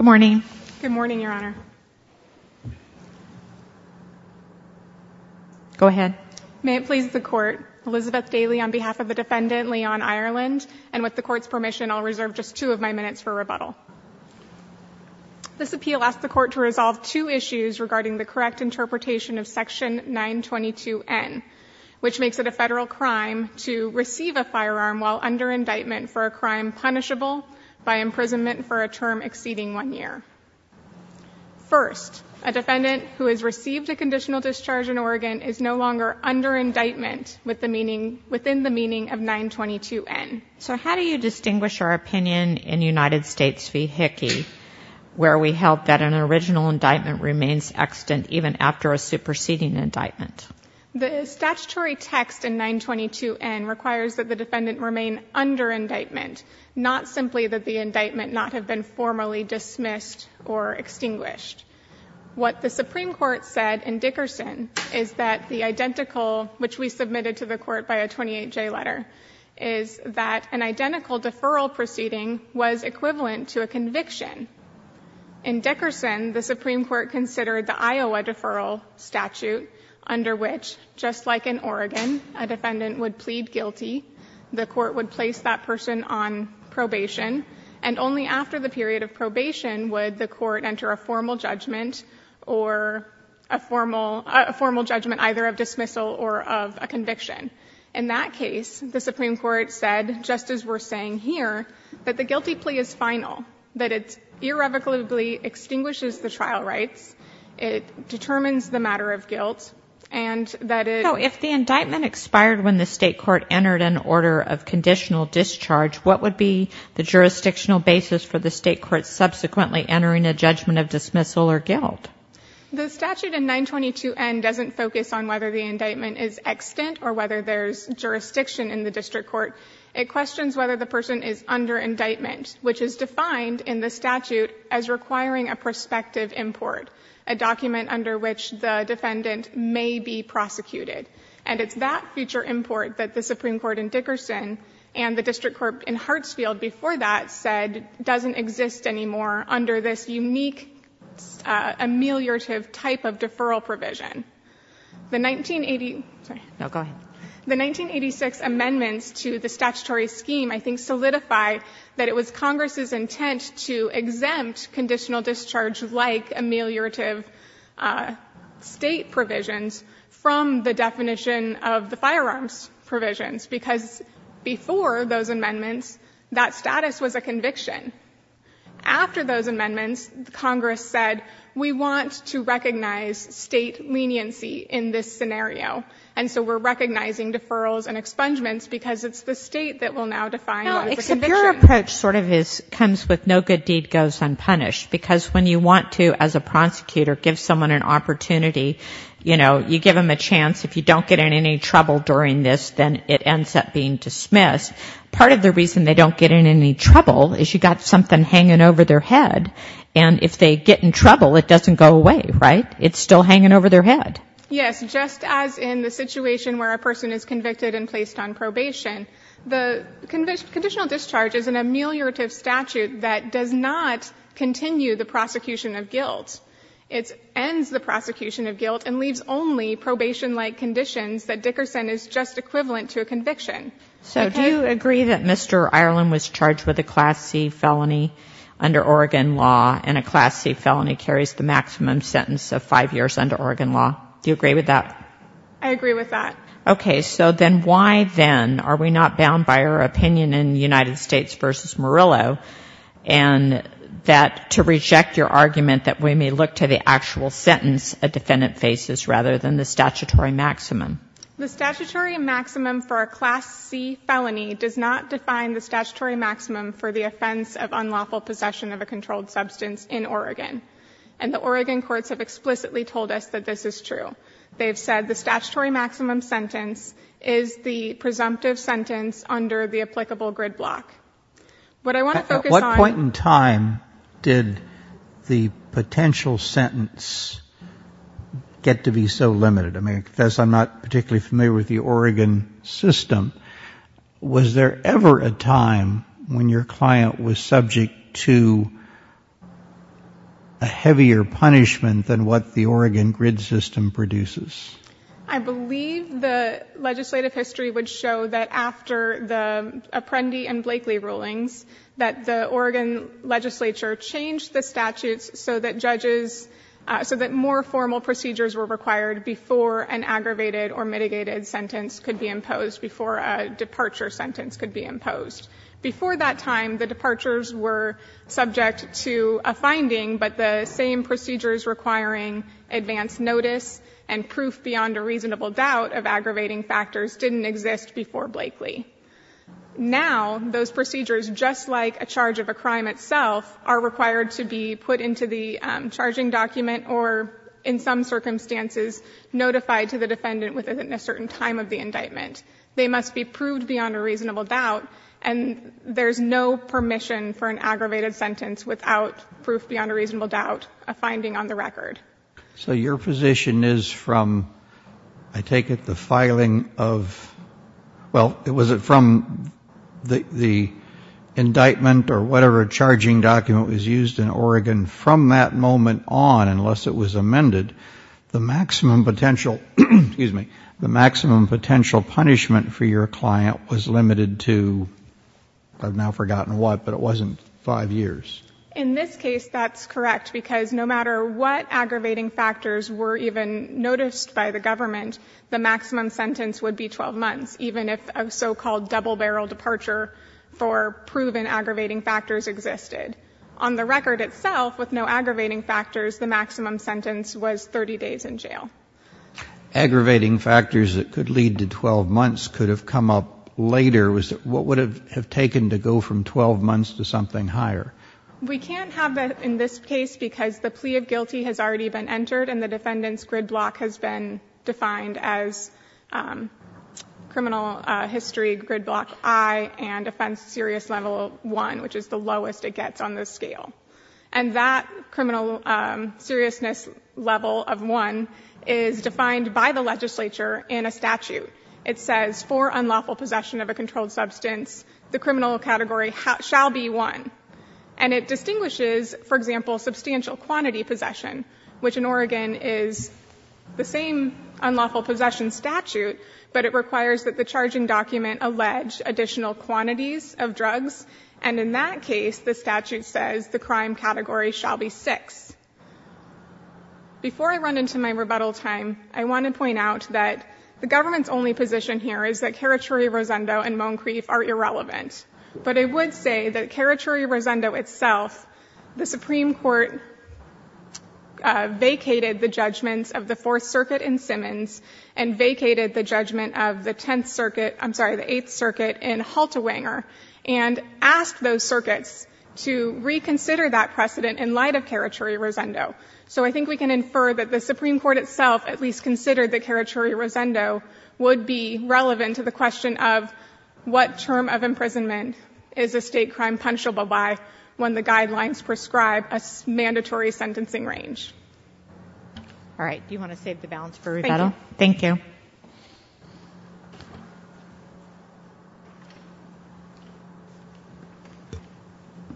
May it please the Court, Elizabeth Daly on behalf of the Defendant, Leon Ireland, and with the Court's permission, I'll reserve just two of my minutes for rebuttal. This appeal asks the Court to resolve two issues regarding the correct interpretation of Section 922N, which makes it a federal crime to receive a firearm while under indictment for a crime punishable by imprisonment for a term exceeding one year. First, a defendant who has received a conditional discharge in Oregon is no longer under indictment with the meaning, within the meaning of 922N. So how do you distinguish our opinion in United States v. Hickey, where we held that an original indictment remains extant even after a superseding indictment? The statutory text in 922N requires that the defendant remain under indictment, not simply that the indictment not have been formally dismissed or extinguished. What the Supreme Court said in Dickerson is that the identical, which we submitted to the Court by a 28J letter, is that an identical deferral proceeding was equivalent to a conviction. In Dickerson, the Supreme Court considered the Iowa deferral statute, under which, just like in Oregon, a defendant would plead guilty, the Court would place that person on probation, and only after the period of probation would the Court enter a formal judgment or a formal judgment either of dismissal or of a conviction. In that case, the Supreme Court said, just as we're saying here, that the guilty plea is final, that it irrevocably extinguishes the trial rights, it determines the matter of guilt, and that it— So if the indictment expired when the state court entered an order of conditional discharge, what would be the jurisdictional basis for the state court subsequently entering a judgment of dismissal or guilt? The statute in 922N doesn't focus on whether the indictment is extant or whether there's jurisdiction in the district court. It questions whether the person is under indictment, which is defined in the statute as requiring a prospective import, a document under which the defendant may be prosecuted. And it's that future import that the Supreme Court in Dickerson and the district court in Hartsfield before that said doesn't exist anymore under this unique ameliorative type of deferral provision. The 1980— Sorry. No, go ahead. The 1986 amendments to the statutory scheme, I think, solidify that it was Congress's intent to exempt conditional discharge-like ameliorative state provisions from the definition of the firearms provisions, because before those amendments, that status was a conviction. After those amendments, Congress said, we want to recognize state leniency in this deferrals and expungements, because it's the state that will now define what is a conviction. No, except your approach sort of comes with no good deed goes unpunished, because when you want to, as a prosecutor, give someone an opportunity, you know, you give them a chance. If you don't get in any trouble during this, then it ends up being dismissed. Part of the reason they don't get in any trouble is you got something hanging over their head, and if they get in trouble, it doesn't go away, right? It's still hanging over their head. Yes, just as in the situation where a person is convicted and placed on probation. The conditional discharge is an ameliorative statute that does not continue the prosecution of guilt. It ends the prosecution of guilt and leaves only probation-like conditions that Dickerson is just equivalent to a conviction. So do you agree that Mr. Ireland was charged with a Class C felony under Oregon law, and Do you agree with that? I agree with that. Okay, so then why then are we not bound by our opinion in United States v. Murillo, and that, to reject your argument that we may look to the actual sentence a defendant faces rather than the statutory maximum? The statutory maximum for a Class C felony does not define the statutory maximum for the offense of unlawful possession of a controlled substance in Oregon, and the Oregon courts have explicitly told us that this is true. They've said the statutory maximum sentence is the presumptive sentence under the applicable grid block. What I want to focus on... At what point in time did the potential sentence get to be so limited? I mean, because I'm not particularly familiar with the Oregon system, was there ever a time when your client was subject to a heavier punishment than what the Oregon grid system produces? I believe the legislative history would show that after the Apprendi and Blakely rulings, that the Oregon legislature changed the statutes so that judges, so that more formal procedures were required before an aggravated or mitigated sentence could be imposed, before a departure sentence could be imposed. Before that time, the departures were subject to a finding, but the same procedures requiring advance notice and proof beyond a reasonable doubt of aggravating factors didn't exist before Blakely. Now those procedures, just like a charge of a crime itself, are required to be put into the charging document or, in some circumstances, notified to the defendant within a certain time of the indictment. They must be proved beyond a reasonable doubt, and there's no permission for an aggravated sentence without proof beyond a reasonable doubt, a finding on the record. So your position is from, I take it, the filing of, well, was it from the indictment or whatever charging document was used in Oregon from that moment on, unless it was amended, the maximum potential punishment for your client was limited to, I've now forgotten what, but it wasn't five years. In this case, that's correct, because no matter what aggravating factors were even noticed by the government, the maximum sentence would be 12 months, even if a so-called double-barrel departure for proven aggravating factors existed. On the record itself, with no aggravating factors, the maximum sentence was 30 days in jail. Aggravating factors that could lead to 12 months could have come up later. What would it have taken to go from 12 months to something higher? We can't have that in this case because the plea of guilty has already been entered and the defendant's grid block has been defined as criminal history grid block I and offense serious level I, which is the lowest it gets on the scale. And that criminal seriousness level of I is defined by the legislature in a statute. It says, for unlawful possession of a controlled substance, the criminal category shall be I. And it distinguishes, for example, substantial quantity possession, which in Oregon is the same unlawful possession statute, but it requires that the charging document allege additional quantities of drugs. And in that case, the statute says the crime category shall be VI. Before I run into my rebuttal time, I want to point out that the government's only position here is that Karachuri-Rosendo and Moncrief are irrelevant. But I would say that Karachuri-Rosendo itself, the Supreme Court vacated the judgments of the Fourth Circuit in Simmons and vacated the judgment of the Tenth Circuit, I'm sorry, the Eighth Circuit in Halterwanger, and asked those circuits to reconsider that precedent in light of Karachuri-Rosendo. So I think we can infer that the Supreme Court itself at least considered that Karachuri-Rosendo would be relevant to the question of what term of imprisonment is a state crime punishable by when the guidelines prescribe a mandatory sentencing range. All right. Do you want to save the balance for rebuttal? Thank you. Thank you.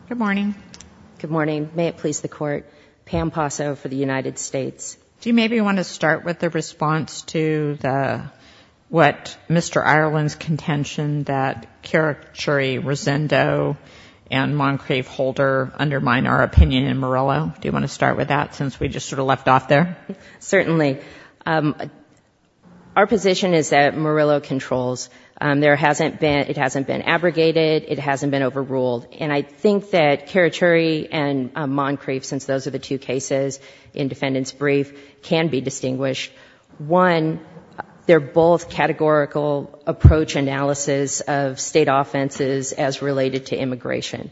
Good morning. Good morning. May it please the Court. Pam Posso for the United States. Do you maybe want to start with the response to what Mr. Ireland's contention that Karachuri-Rosendo and Moncrief-Halter undermine our opinion in Morello? Do you want to start with that since we just sort of left off there? Certainly. Our position is that Morello controls. There hasn't been, it hasn't been abrogated, it hasn't been overruled. And I think that Karachuri and Moncrief, since those are the two cases in defendant's brief, can be distinguished. One, they're both categorical approach analysis of state offenses as related to immigration.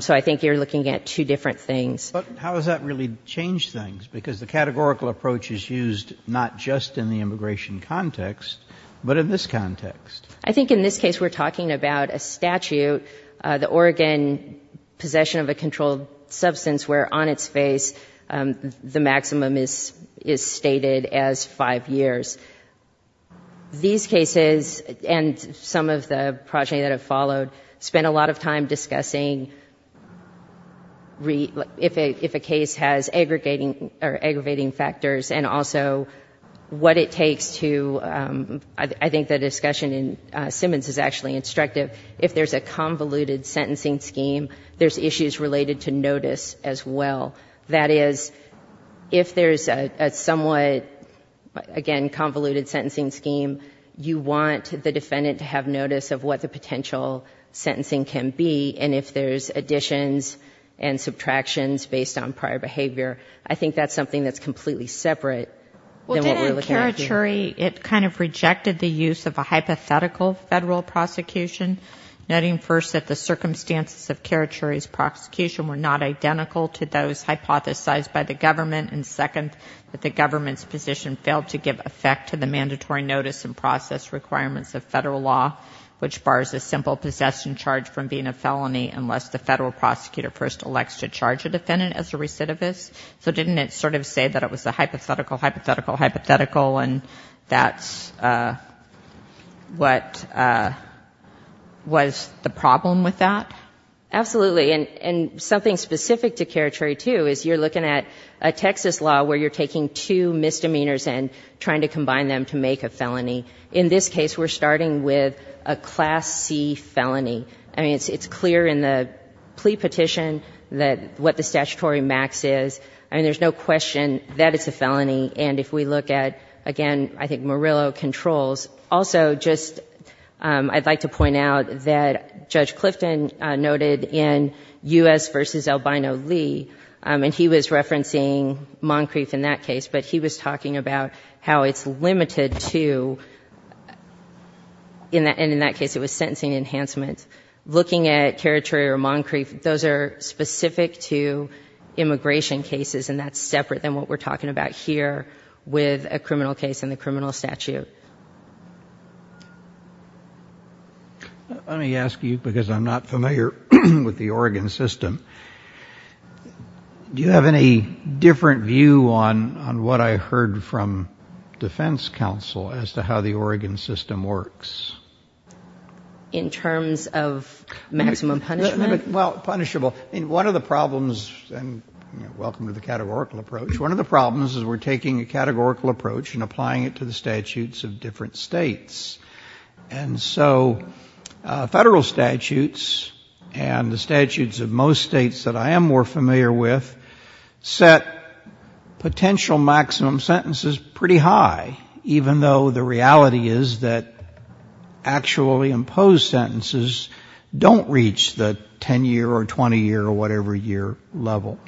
So I think you're looking at two different things. How does that really change things? Because the categorical approach is used not just in the immigration context, but in this context. I think in this case we're talking about a statute, the Oregon possession of a controlled substance where on its face the maximum is stated as five years. These cases, and some of the progeny that have followed, spent a lot of time discussing if a case has aggregating factors and also what it takes to, I think the discussion in Simmons is actually instructive. If there's a convoluted sentencing scheme, there's issues related to notice as well. That is, if there's a somewhat, again, convoluted sentencing scheme, you want the defendant to have notice of what the potential sentencing can be, and if there's additions and subtractions based on prior behavior. I think that's something that's completely separate than what we're looking at here. It kind of rejected the use of a hypothetical federal prosecution, noting first that the circumstances of Karachuri's prosecution were not identical to those hypothesized by the government, and second, that the government's position failed to give effect to the mandatory notice and process requirements of federal law, which bars a simple possession charge from being a felony unless the federal prosecutor first elects to charge a defendant as a recidivist. So didn't it sort of say that it was a hypothetical, hypothetical, hypothetical, and that's what was the problem with that? Absolutely, and something specific to Karachuri, too, is you're looking at a Texas law where you're taking two misdemeanors and trying to combine them to make a felony. In this case, we're starting with a Class C felony. I mean, it's clear in the plea petition that what the statutory max is. I mean, there's no question that it's a felony, and if we look at, again, I think Murillo controls. Also, just I'd like to point out that Judge Clifton noted in U.S. v. Albino Lee, and he was referencing Moncrief in that case, but he was talking about how it's limited to, and in that case, it was sentencing enhancement. Looking at Karachuri or Moncrief, those are specific to immigration cases, and that's separate than what we're talking about here with a criminal case and the criminal statute. Let me ask you, because I'm not familiar with the Oregon system, do you have any different view on what I heard from defense counsel as to how the Oregon system works? In terms of maximum punishment? Well, punishable. I mean, one of the problems, and welcome to the categorical approach, one of the problems is we're taking a categorical approach and applying it to the statutes of different states. And so federal statutes and the statutes of most states that I am more familiar with set potential maximum sentences pretty high, even though the reality is that actually imposed sentences don't reach the 10-year or 20-year or whatever year level.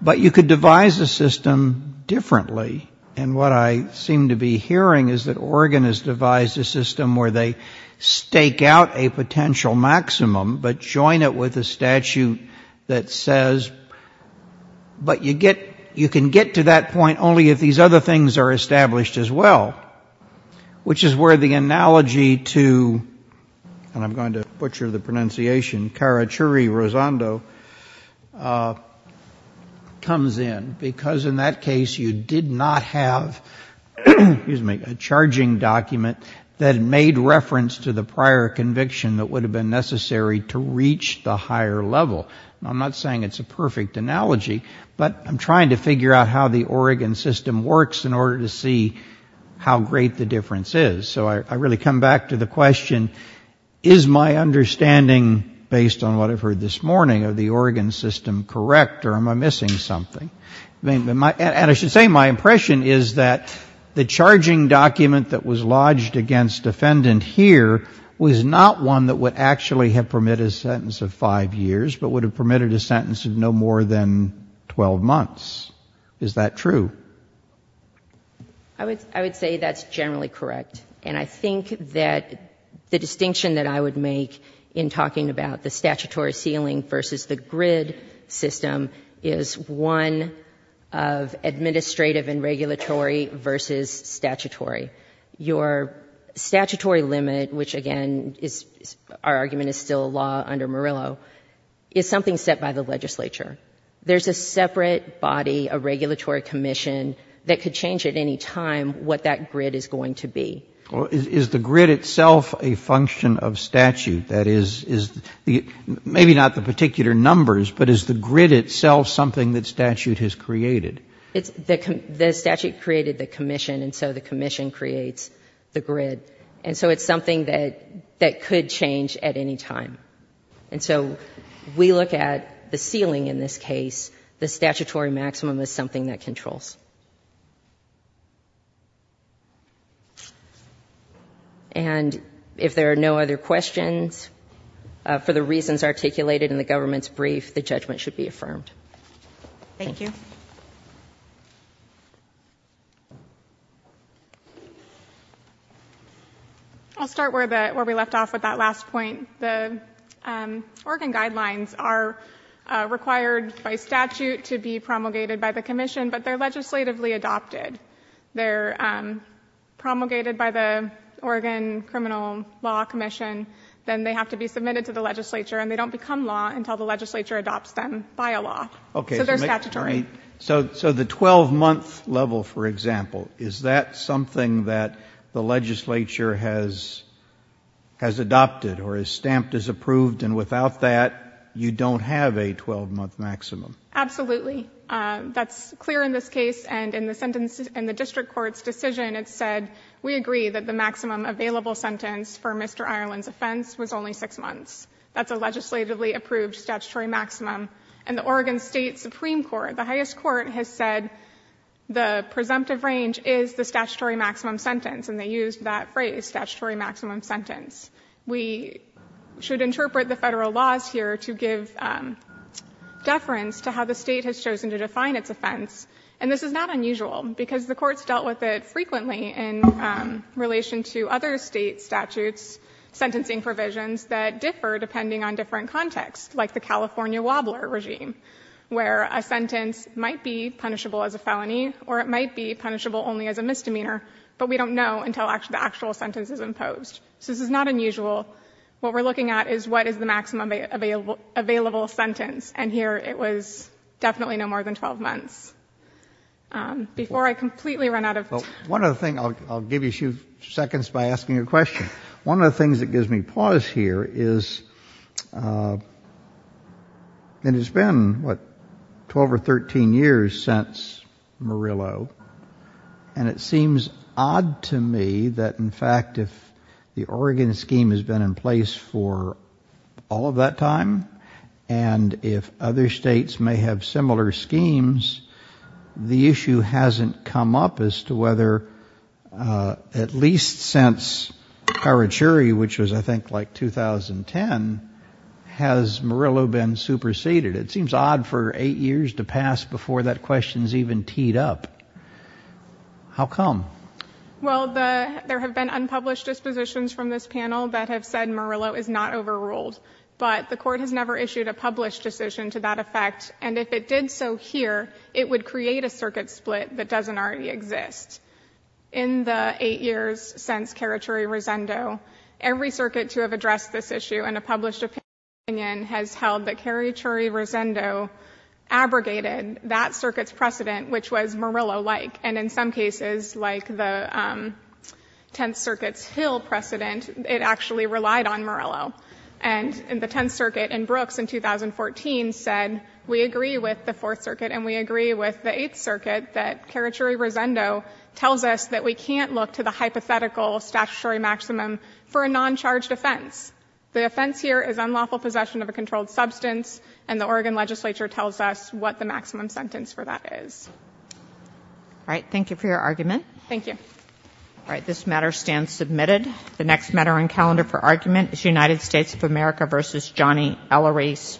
But you could devise a system differently. And what I seem to be hearing is that Oregon has devised a system where they stake out a potential maximum but join it with a statute that says, but you can get to that point only if these other things are established as well, which is where the analogy to, and I'm going to butcher the pronunciation, Karachuri-Rosando comes in, because in that case you did not have, excuse me, a charging document that made reference to the prior conviction that would have been necessary to reach the higher level. I'm not saying it's a perfect analogy, but I'm trying to figure out how the Oregon system works in order to see how great the difference is. So I really come back to the question, is my understanding based on what I've heard this morning of the Oregon system correct or am I missing something? And I should say my impression is that the charging document that was lodged against defendant here was not one that would actually have permitted a sentence of five years but would have permitted a sentence of no more than 12 months. Is that true? I would say that's generally correct. And I think that the distinction that I would make in talking about the statutory ceiling versus the grid system is one of administrative and regulatory versus statutory. Your statutory limit, which again, our argument is still law under Murillo, is something set by the legislature. There's a separate body, a regulatory commission that could change at any time what that grid is going to be. Is the grid itself a function of statute? That is, maybe not the particular numbers, but is the grid itself something that statute has created? The statute created the commission and so the commission creates the grid. And so it's something that could change at any time. And so we look at the ceiling in this case. The statutory maximum is something that controls. And if there are no other questions, for the reasons articulated in the government's brief, the judgment should be affirmed. Thank you. I'll start where we left off with that last point. The Oregon guidelines are required by statute to be promulgated by the commission, but they're legislatively adopted. They're promulgated by the Oregon Criminal Law Commission, then they have to be submitted to the legislature and they don't become law until the legislature adopts them by a law. So they're statutory. So the 12-month level, for example, is that something that the legislature has adopted or is stamped as approved and without that, you don't have a 12-month maximum? Absolutely. That's clear in this case and in the sentence in the district court's decision, it said we agree that the maximum available sentence for Mr. Ireland's offense was only six months. That's a legislatively approved statutory maximum. And the Oregon State Supreme Court, the highest court, has said the presumptive range is the statutory maximum sentence and they used that phrase, statutory maximum sentence. We should interpret the federal laws here to give deference to how the state has chosen to define its offense. And this is not unusual because the courts dealt with it frequently in relation to other state statutes, sentencing provisions that differ depending on different contexts, like the California wobbler regime, where a sentence might be punishable as a felony or it might be punishable only as a misdemeanor, but we don't know until the actual sentence is imposed. So this is not unusual. What we're looking at is what is the maximum available sentence and here it was definitely no more than 12 months. Before I completely run out of time. One of the things, I'll give you a few seconds by asking you a question, one of the things that gives me pause here is, it has been, what, 12 or 13 years since Murillo and it the Oregon scheme has been in place for all of that time and if other states may have similar schemes, the issue hasn't come up as to whether at least since Karachuri, which was I think like 2010, has Murillo been superseded? It seems odd for eight years to pass before that question's even teed up. How come? Well, the, there have been unpublished dispositions from this panel that have said Murillo is not overruled, but the court has never issued a published decision to that effect and if it did so here, it would create a circuit split that doesn't already exist. In the eight years since Karachuri-Resendo, every circuit to have addressed this issue in a published opinion has held that Karachuri-Resendo abrogated that circuit's precedent, which was Murillo-like and in some cases, like the Tenth Circuit's Hill precedent, it actually relied on Murillo and the Tenth Circuit in Brooks in 2014 said, we agree with the Fourth Circuit and we agree with the Eighth Circuit that Karachuri-Resendo tells us that we can't look to the hypothetical statutory maximum for a non-charged offense. The offense here is unlawful possession of a controlled substance and the Oregon legislature tells us what the maximum sentence for that is. All right. Thank you for your argument. Thank you. All right. This matter stands submitted. The next matter on calendar for argument is United States of America v. Johnny Ellery Smith.